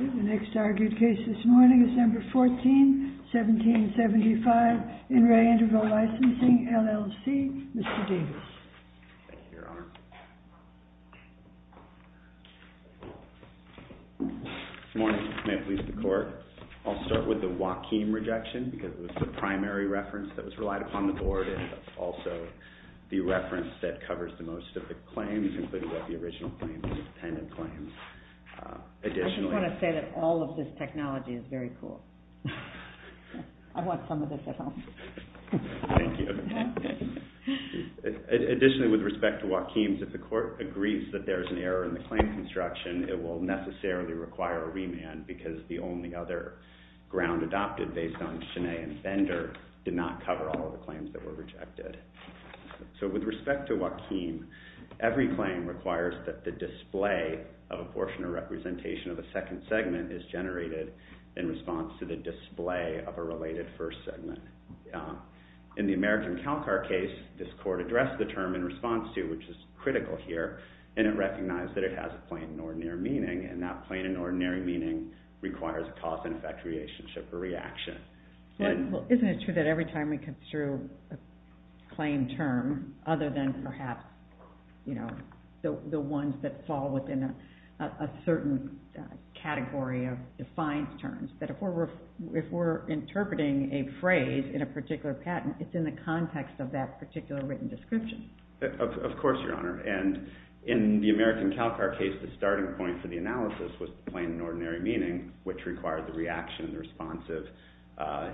The next argued case this morning, December 14, 1775, In Re Interval Licensing, LLC, Mr. Davis. Your Honor. Good morning. May it please the Court. I'll start with the Joaquim rejection because it was the primary reference that was relied upon the Board and also the reference that covers the most of the claims, including the original claims and the dependent claims. Additionally... I just want to say that all of this technology is very cool. I want some of this at home. Thank you. Additionally, with respect to Joaquim, if the Court agrees that there is an error in the claim construction, it will necessarily require a remand because the only other ground adopted based on Chenet and Bender did not cover all of the claims that were rejected. So, with respect to Joaquim, every claim requires that the display of a portion or representation of a second segment is generated in response to the display of a related first segment. In the American Calcar case, this Court addressed the term in response to, which is critical here, and it recognized that it has a plain and ordinary meaning, and that plain and ordinary meaning requires a cause and effect relationship or reaction. Isn't it true that every time we come through a claim term, other than perhaps the ones that fall within a certain category of defined terms, that if we're interpreting a phrase in a particular patent, it's in the context of that particular written description? Of course, Your Honor. And in the American Calcar case, the starting point for the analysis was plain and ordinary meaning, which required the reaction, the response of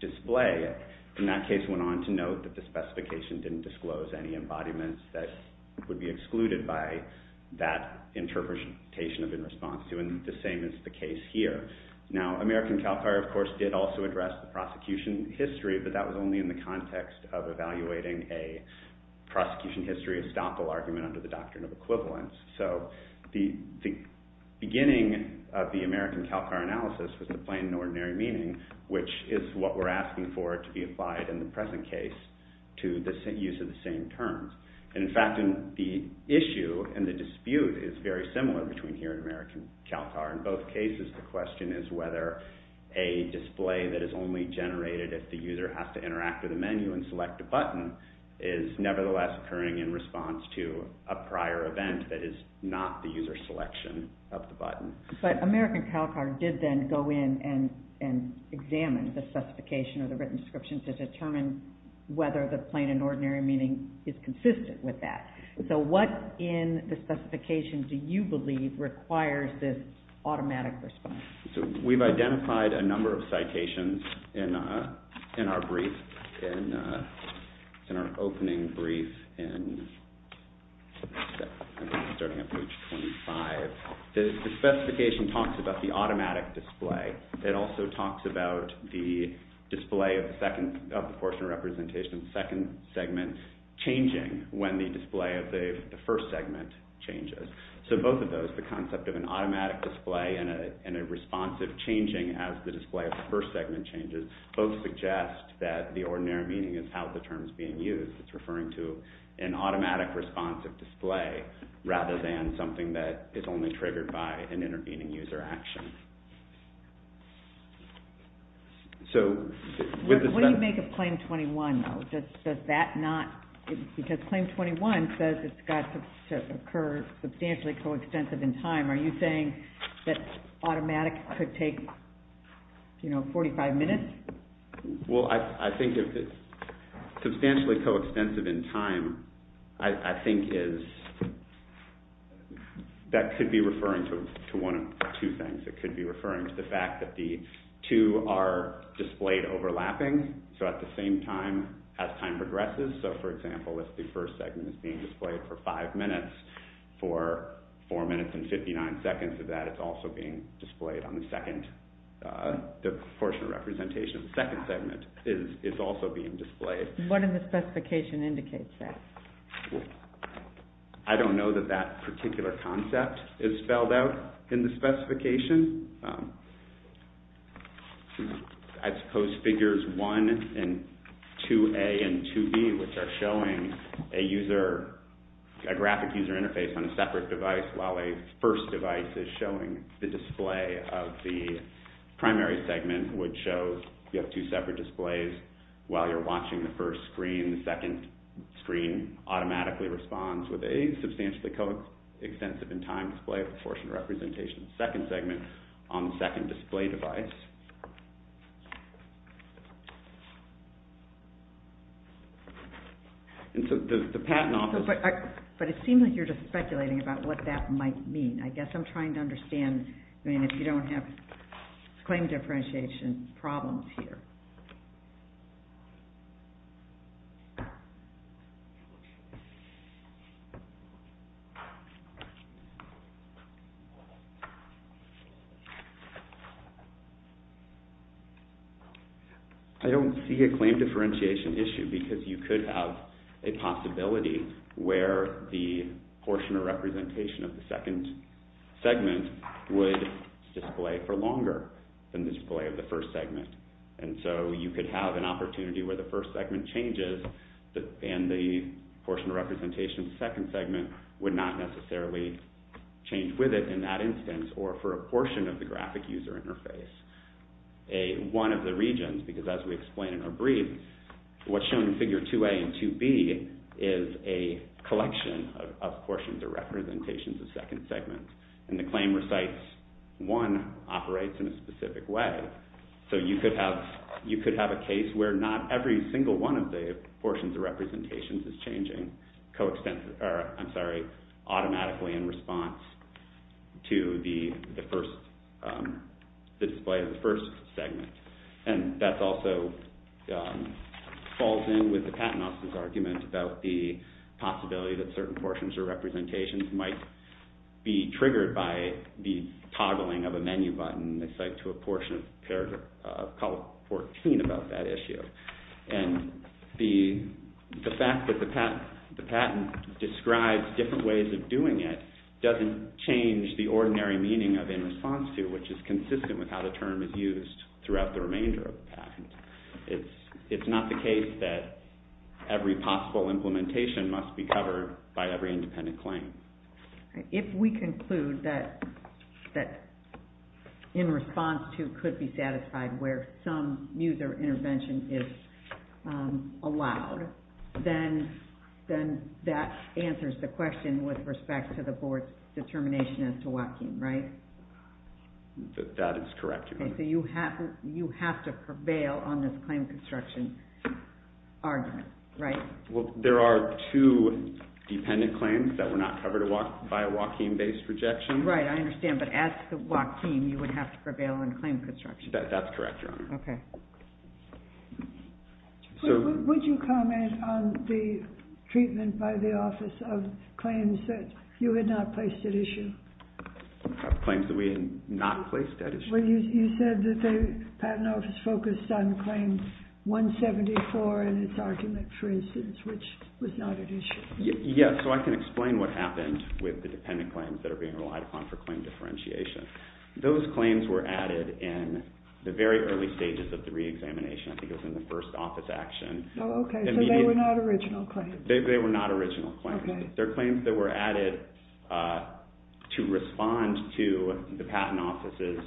display. And that case went on to note that the specification didn't disclose any embodiments that would be excluded by that interpretation of in response to, and the same is the case here. Now, American Calcar, of course, did also address the prosecution history, but that was only in the context of evaluating a prosecution history estoppel argument under the doctrine of equivalence. So the beginning of the American Calcar analysis was the plain and ordinary meaning, which is what we're asking for to be applied in the present case to the use of the same terms. And in fact, the issue and the dispute is very similar between here and American Calcar. In both cases, the question is whether a display that is only generated if the user has to interact with a menu and select a button is nevertheless occurring in response to a prior event that is not the user selection of the button. But American Calcar did then go in and examine the specification or the written description to determine whether the plain and ordinary meaning is consistent with that. So what in the specification do you believe requires this automatic response? So we've identified a number of citations in our brief, in our opening brief, starting at page 25. The specification talks about the automatic display. It also talks about the display of the portion of representation, the second segment, changing when the display of the first segment changes. So both of those, the concept of an automatic display and a responsive changing as the display of the first segment changes, both suggest that the ordinary meaning is how the term is being used. It's referring to an automatic responsive display rather than something that is only triggered by an intervening user action. What do you make of claim 21, though? Does that not, because claim 21 says it's got to occur substantially coextensive in time. Are you saying that automatic could take, you know, 45 minutes? Well, I think if it's substantially coextensive in time, I think is, that could be referring to one of two things. It could be referring to the fact that the two are displayed overlapping. So at the same time, as time progresses. So, for example, if the first segment is being displayed for five minutes, for four minutes and 59 seconds of that, it's also being displayed on the second, the portion of representation of the second segment is also being displayed. What in the specification indicates that? I don't know that that particular concept is spelled out in the specification. I suppose figures 1 and 2A and 2B, which are showing a user, a graphic user interface on a separate device while a first device is showing the display of the primary segment, which shows you have two separate displays. While you're watching the first screen, the second screen automatically responds with substantially coextensive in time display of the portion of representation of the second segment on the second display device. And so the patent office... But it seems like you're just speculating about what that might mean. I guess I'm trying to understand, I mean, if you don't have claim differentiation problems here. I don't see a claim differentiation issue because you could have a possibility where the portion of representation of the second segment would display for longer than the display of the first segment. And so you could have an opportunity where the first segment changes and the portion of representation of the second segment would not necessarily change with it in that instance or for a portion of the graphic user interface. One of the regions, because as we explained in our brief, what's shown in figure 2A and 2B is a collection of portions or representations of second segments. And the claim recites one operates in a specific way. So you could have a case where not every single one of the portions or representations is changing automatically in response to the display of the first segment. And that also falls in with the patent office's argument about the possibility that certain portions or representations might be triggered by the toggling of a menu button to a portion of paragraph 14 about that issue. And the fact that the patent describes different ways of doing it doesn't change the ordinary meaning of in response to, which is consistent with how the term is used throughout the remainder of the patent. It's not the case that every possible implementation must be covered by every independent claim. If we conclude that in response to could be satisfied where some user intervention is allowed, then that answers the question with respect to the board's determination as to Joaquin, right? That is correct. So you have to prevail on this claim construction argument, right? Well, there are two dependent claims that were not covered by a Joaquin-based rejection. Right, I understand. But as the Joaquin, you would have to prevail on claim construction. That's correct, Your Honor. Okay. Would you comment on the treatment by the office of claims that you had not placed at issue? Claims that we had not placed at issue? Well, you said that the patent office focused on claim 174 in its argument, for instance, which was not at issue. Yes, so I can explain what happened with the dependent claims that are being relied upon for claim differentiation. Those claims were added in the very early stages of the reexamination. I think it was in the first office action. Oh, okay, so they were not original claims. They were not original claims. Okay. They're claims that were added to respond to the patent offices.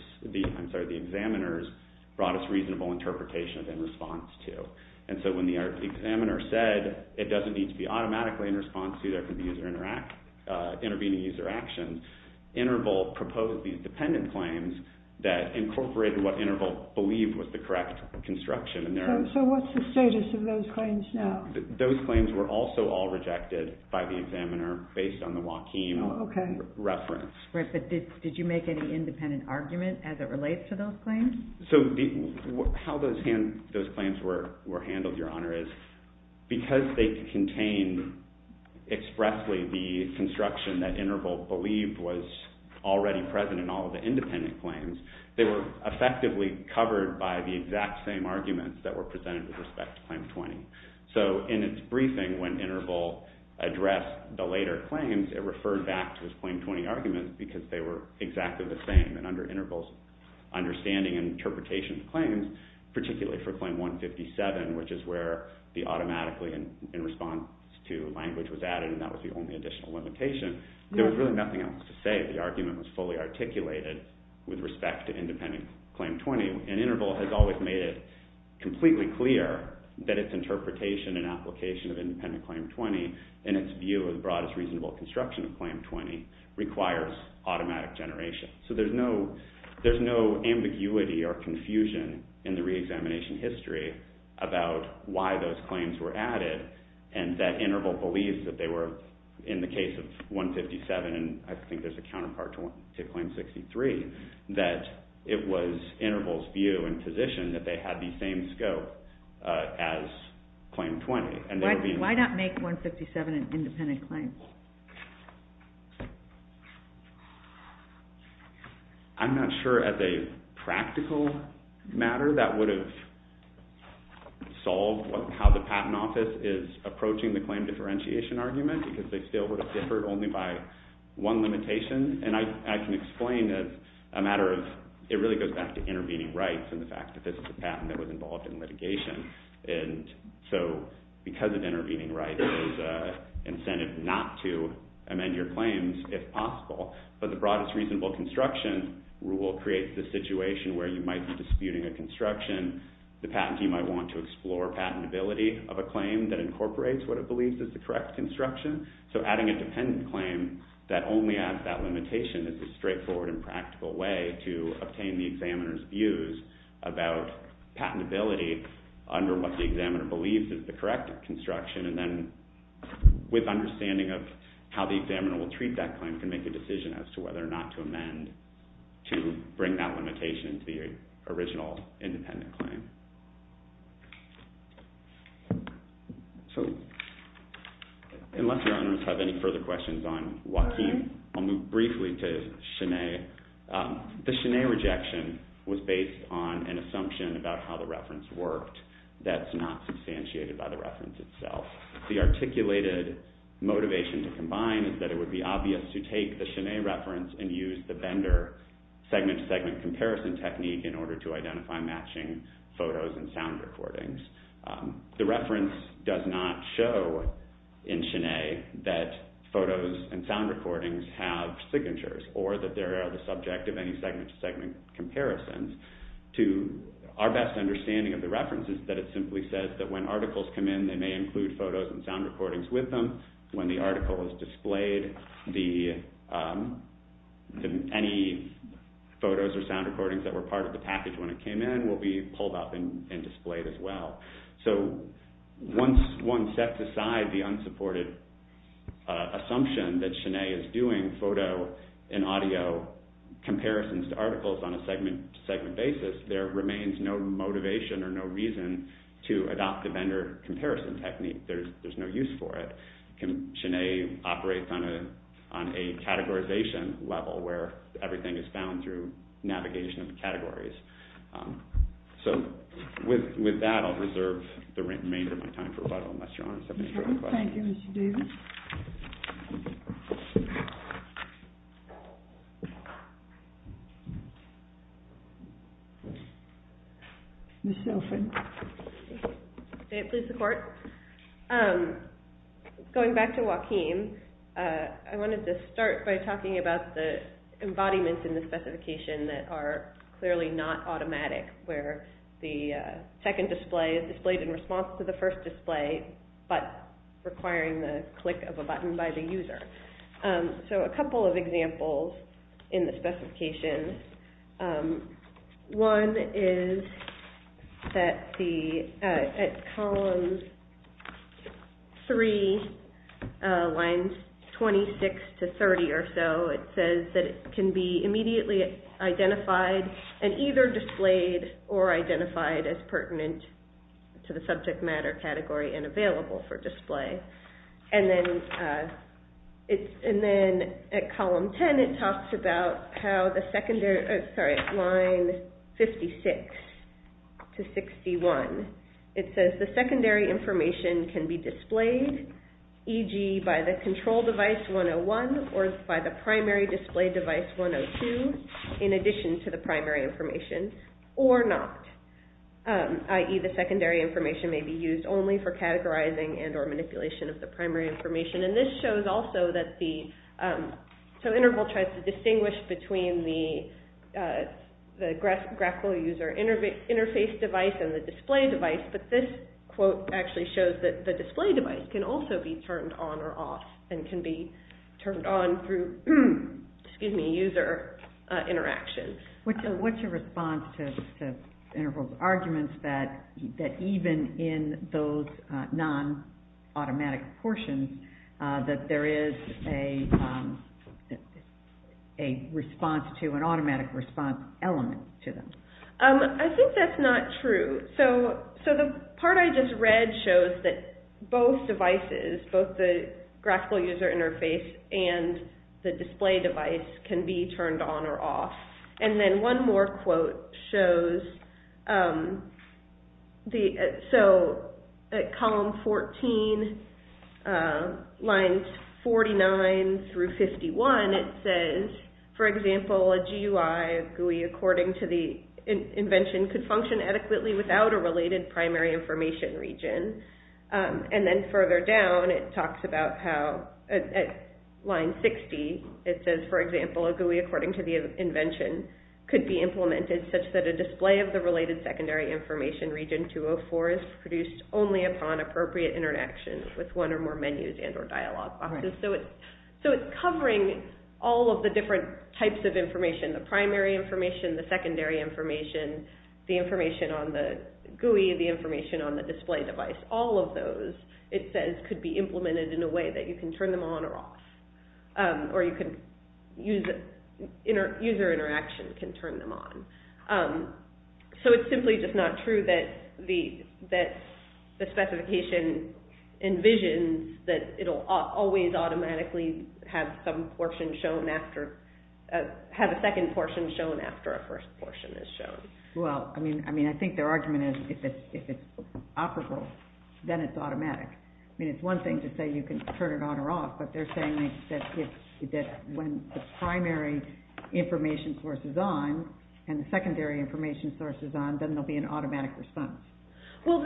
I'm sorry, the examiners brought us reasonable interpretations in response to. And so when the examiner said it doesn't need to be automatically in response to, there could be user interact, intervening user actions, Intervolt proposed these dependent claims that incorporated what Intervolt believed was the correct construction. So what's the status of those claims now? Those claims were also all rejected by the examiner based on the Joaquim reference. But did you make any independent argument as it relates to those claims? So how those claims were handled, Your Honor, is because they contain expressly the construction that Intervolt believed was already present in all of the independent claims, they were effectively covered by the exact same arguments that were presented with respect to claim 20. So in its briefing, when Intervolt addressed the later claims, it referred back to its claim 20 argument because they were exactly the same. And under Intervolt's understanding and interpretation of claims, particularly for claim 157, which is where the automatically in response to language was added and that was the only additional limitation, there was really nothing else to say. The argument was fully articulated with respect to independent claim 20. And Intervolt has always made it completely clear that its interpretation and application of independent claim 20 and its view of the broadest reasonable construction of claim 20 requires automatic generation. So there's no ambiguity or confusion in the reexamination history about why those claims were added and that Intervolt believes that they were, in the case of 157, and I think there's a counterpart to claim 63, that it was Intervolt's view and position that they had the same scope as claim 20. Why not make 157 an independent claim? I'm not sure as a practical matter that would have solved how the Patent Office is approaching the claim differentiation argument because they still would have differed only by one limitation. And I can explain as a matter of, it really goes back to intervening rights and the fact that this is a patent that was involved in litigation. And so because of intervening rights, there's an incentive not to amend your claims if possible. But the broadest reasonable construction rule creates the situation where you might be disputing a construction, the patent team might want to explore patentability of a claim that incorporates what it believes is the correct construction. So adding a dependent claim that only adds that limitation is a straightforward and practical way to obtain the examiner's views about patentability under what the examiner believes is the correct construction and then with understanding of how the examiner will treat that claim can make a decision as to whether or not to amend to bring that limitation to the original independent claim. So unless your honors have any further questions on Joaquin, I'll move briefly to Sinead. The Sinead rejection was based on an assumption about how the reference worked that's not substantiated by the reference itself. The articulated motivation to combine is that it would be obvious to take the Sinead reference and use the Bender segment-to-segment comparison technique in order to identify matching photos and sound recordings. The reference does not show in Sinead that photos and sound recordings have signatures or that they are the subject of any segment-to-segment comparisons. Our best understanding of the reference is that it simply says that when articles come in, they may include photos and sound recordings with them. When the article is displayed, any photos or sound recordings that were part of the package when it came in will be pulled up and displayed as well. So once one sets aside the unsupported assumption that Sinead is doing photo and audio comparisons to articles on a segment-to-segment basis, there remains no motivation or no reason to adopt the Bender comparison technique. There's no use for it. Sinead operates on a categorization level where everything is bound through navigation of categories. So with that, I'll reserve the remainder of my time for rebuttal. Thank you, Mr. Davis. May it please the Court. Going back to Joaquim, I wanted to start by talking about the embodiments in the specification that are clearly not automatic, where the second display is displayed in response to the first display but requiring the click of a button by the user. So a couple of examples in the specification. One is at column 3, lines 26 to 30 or so, it says that it can be immediately identified and either displayed or identified as pertinent to the subject matter category and available for display. And then at column 10, it talks about line 56 to 61. It says the secondary information can be displayed, e.g. by the control device 101 or by the primary display device 102, in addition to the primary information, or not, i.e. the secondary information may be used only for categorizing and or manipulation of the primary information. This shows also that Interval tries to distinguish between the graphical user interface device and the display device, but this quote actually shows that the display device can also be turned on or off and can be turned on through user interaction. It seems that even in those non-automatic portions, that there is an automatic response element to them. I think that's not true. So the part I just read shows that both devices, both the graphical user interface and the display device, can be turned on or off. And then one more quote shows, so at column 14, lines 49 through 51, it says, for example, a GUI, a GUI according to the invention, could function adequately without a related primary information region. And then further down, it talks about how, at line 60, it says, for example, a GUI, according to the invention, could be implemented such that a display of the related secondary information region 204 is produced only upon appropriate interaction with one or more menus and or dialog boxes. So it's covering all of the different types of information, the primary information, the secondary information, the information on the GUI, the information on the display device. All of those, it says, could be implemented in a way that you can turn them on or off, or user interaction can turn them on. So it's simply just not true that the specification envisions that it will always automatically have some portion shown after, have a second portion shown after a first portion is shown. Well, I mean, I think their argument is if it's operable, then it's automatic. I mean, it's one thing to say you can turn it on or off, but they're saying that when the primary information source is on and the secondary information source is on, then there will be an automatic response. Well,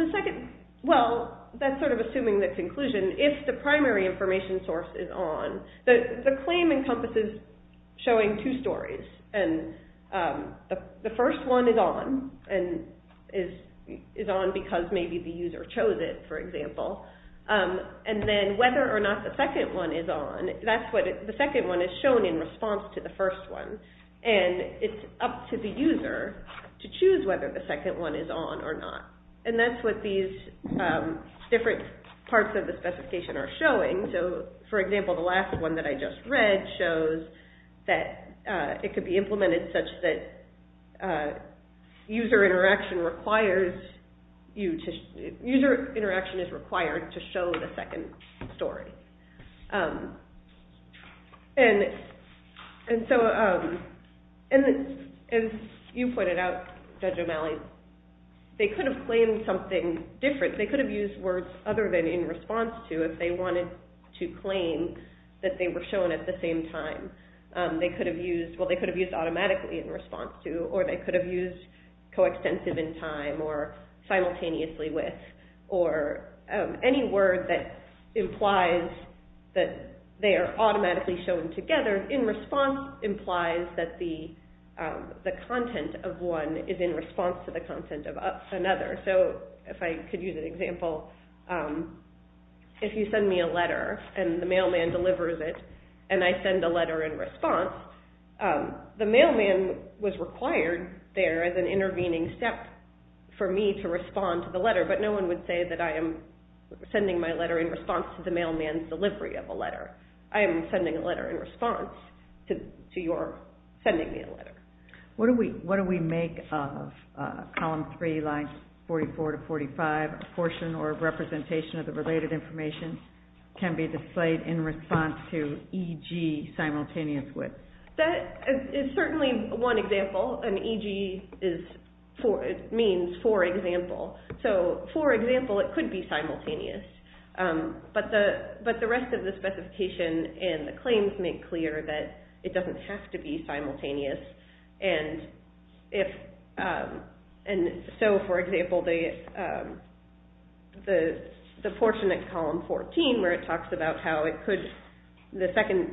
that's sort of assuming the conclusion. If the primary information source is on, the claim encompasses showing two stories. The first one is on, and is on because maybe the user chose it, for example. And then whether or not the second one is on, that's what the second one is shown in response to the first one. And it's up to the user to choose whether the second one is on or not. And that's what these different parts of the specification are showing. So, for example, the last one that I just read shows that it could be implemented such that user interaction is required to show the second story. And so, as you pointed out, Judge O'Malley, they could have claimed something different. They could have used words other than in response to if they wanted to claim that they were shown at the same time. Well, they could have used automatically in response to, or they could have used coextensive in time, or simultaneously with, or any word that implies that they are automatically shown together in response implies that the content of one is in response to the content of another. So, if I could use an example, if you send me a letter and the mailman delivers it and I send a letter in response, the mailman was required there as an intervening step for me to respond to the letter, but no one would say that I am sending my letter in response to the mailman's delivery of a letter. I am sending a letter in response to your sending me a letter. What do we make of Column 3, Lines 44 to 45? A portion or representation of the related information can be displayed in response to EG simultaneous with. That is certainly one example, and EG means for example. So, for example, it could be simultaneous, but the rest of the specification and the claims make clear that it doesn't have to be simultaneous. So, for example, the portion at Column 14 where it talks about how the second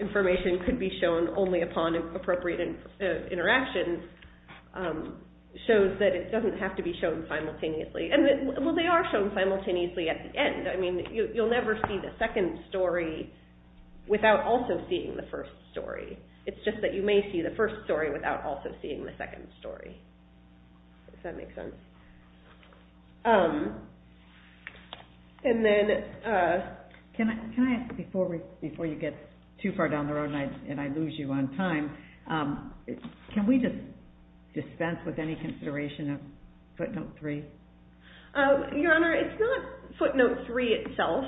information could be shown only upon appropriate interaction shows that it doesn't have to be shown simultaneously. Well, they are shown simultaneously at the end. I mean, you will never see the second story without also seeing the first story. It's just that you may see the first story without also seeing the second story. Does that make sense? Can I ask, before you get too far down the road and I lose you on time, can we just dispense with any consideration of Footnote 3? Your Honor, it's not Footnote 3 itself.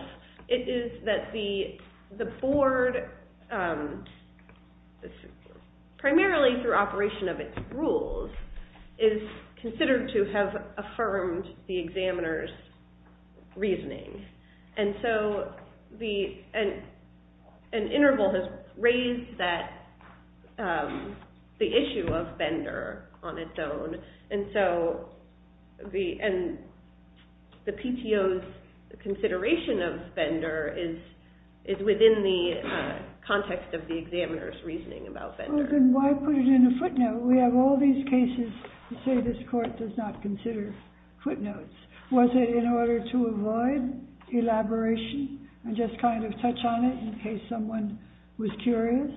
It is that the board, primarily through operation of its rules, is considered to have affirmed the examiner's reasoning. And so an interval has raised the issue of Bender on its own. And so the PTO's consideration of Bender is within the context of the examiner's reasoning about Bender. Well, then why put it in a footnote? We have all these cases to say this court does not consider footnotes. Was it in order to avoid elaboration and just kind of touch on it in case someone was curious?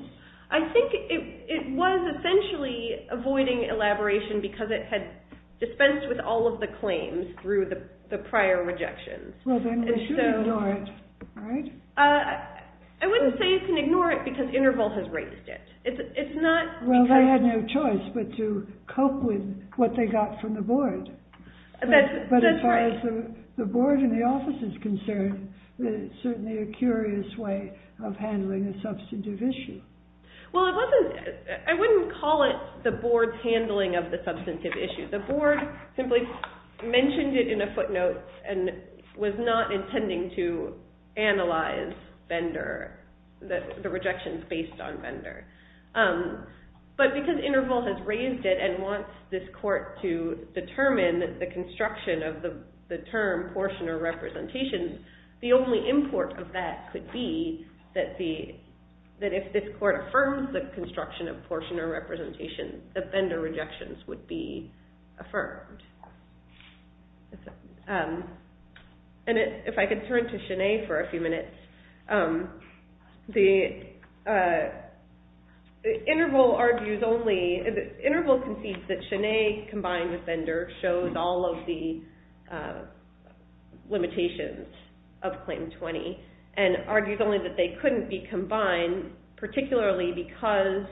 I think it was essentially avoiding elaboration because it had dispensed with all of the claims through the prior rejections. Well, then they should ignore it, right? I wouldn't say you can ignore it because interval has raised it. Well, they had no choice but to cope with what they got from the board. But as far as the board and the office is concerned, it's certainly a curious way of handling a substantive issue. Well, I wouldn't call it the board's handling of the substantive issue. The board simply mentioned it in a footnote and was not intending to analyze Bender, the rejections based on Bender. But because interval has raised it and wants this court to determine the construction of the term portion or representation, the only import of that could be that if this court affirms the construction of portion or representation, the Bender rejections would be affirmed. And if I could turn to Sinead for a few minutes. Interval concedes that Sinead combined with Bender shows all of the limitations of Claim 20 and argues only that they couldn't be combined, particularly because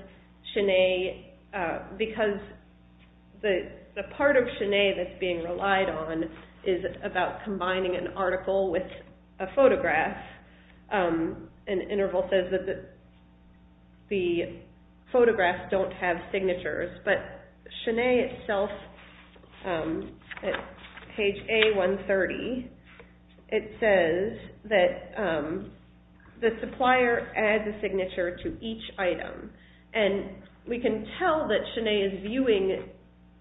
the part of Sinead that's being relied on is about combining an article with a photograph. And Interval says that the photographs don't have signatures. But Sinead itself, at page A130, it says that the supplier adds a signature to each item. And we can tell that Sinead is viewing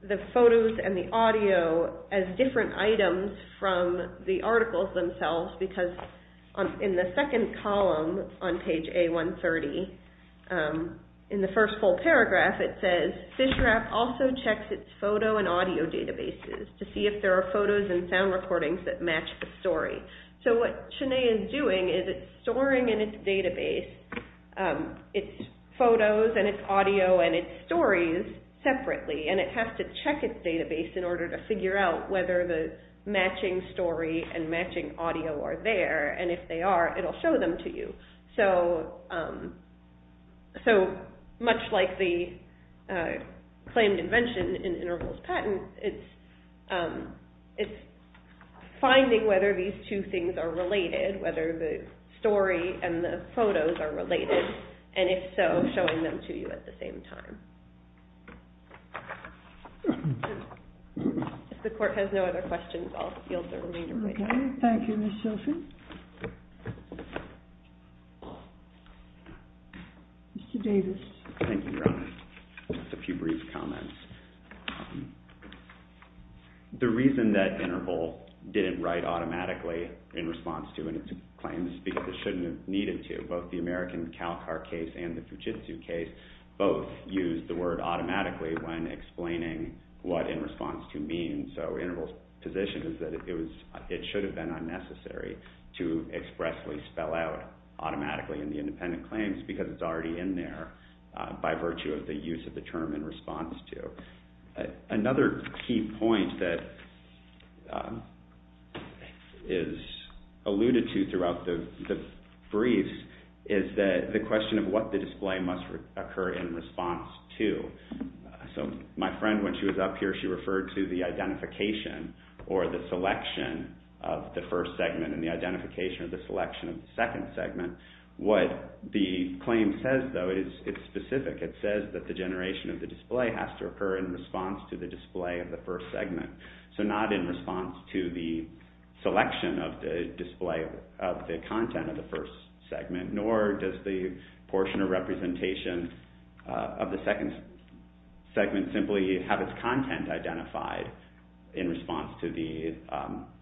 the photos and the audio as different items from the articles themselves because in the second column on page A130, in the first full paragraph, it says FISHRAP also checks its photo and audio databases to see if there are photos and sound recordings that match the story. So what Sinead is doing is it's storing in its database its photos and its audio and its stories separately. And it has to check its database in order to figure out whether the matching story and matching audio are there. And if they are, it will show them to you. So much like the claimed invention in Interval's patent, it's finding whether these two things are related, whether the story and the photos are related, and if so, showing them to you at the same time. If the Court has no other questions, I'll yield the remainder of my time. Thank you, Ms. Sophie. Mr. Davis. Thank you, Your Honor. Just a few brief comments. The reason that Interval didn't write automatically in response to its claims because it shouldn't have needed to, both the American Calcar case and the Fujitsu case, both used the word automatically when explaining what in response to means. So Interval's position is that it should have been unnecessary to expressly spell out automatically in the independent claims because it's already in there by virtue of the use of the term in response to. Another key point that is alluded to throughout the briefs is the question of what the display must occur in response to. So my friend, when she was up here, she referred to the identification or the selection of the first segment and the identification of the selection of the second segment. What the claim says, though, is it's specific. It says that the generation of the display has to occur in response to the display of the first segment, so not in response to the selection of the display of the content of the first segment, nor does the portion of representation of the second segment simply have its content identified in response to the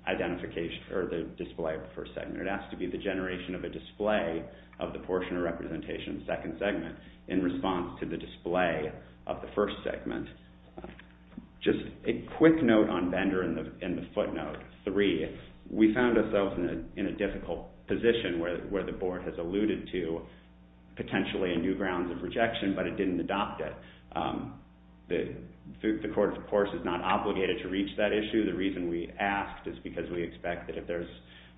identification or the display of the first segment. It has to be the generation of a display of the portion of representation of the second segment in response to the display of the first segment. Just a quick note on Bender and the footnote, three, we found ourselves in a difficult position where the Board has alluded to potentially new grounds of rejection, but it didn't adopt it. The Court, of course, is not obligated to reach that issue. The reason we asked is because we expect that if there's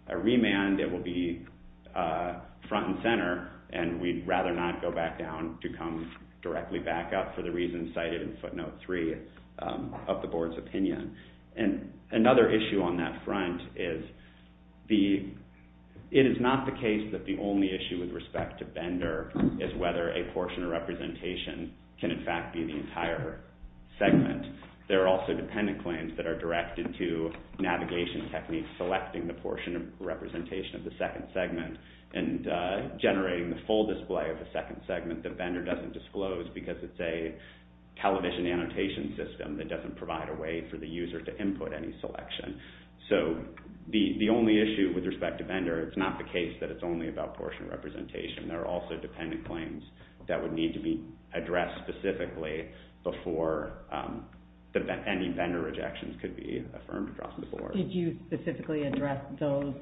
a remand, it will be front and center, and we'd rather not go back down to come directly back up for the reasons cited in footnote three of the Board's opinion. And another issue on that front is it is not the case that the only issue with respect to Bender is whether a portion of representation can, in fact, be the entire segment. There are also dependent claims that are directed to navigation techniques selecting the portion of representation of the second segment and generating the full display of the second segment that Bender doesn't disclose because it's a television annotation system that doesn't provide a way for the user to input any selection. So the only issue with respect to Bender, it's not the case that it's only about portion representation. There are also dependent claims that would need to be addressed specifically before any Bender rejections could be affirmed across the Board. Did you specifically address those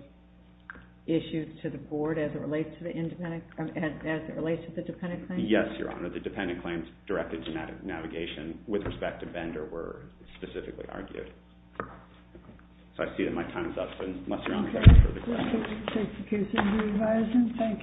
issues to the Board as it relates to the dependent claims? Yes, Your Honor. The dependent claims directed to navigation with respect to Bender were specifically argued. So I see that my time is up, unless Your Honor has further questions. We'll take the case into revising. Thank you.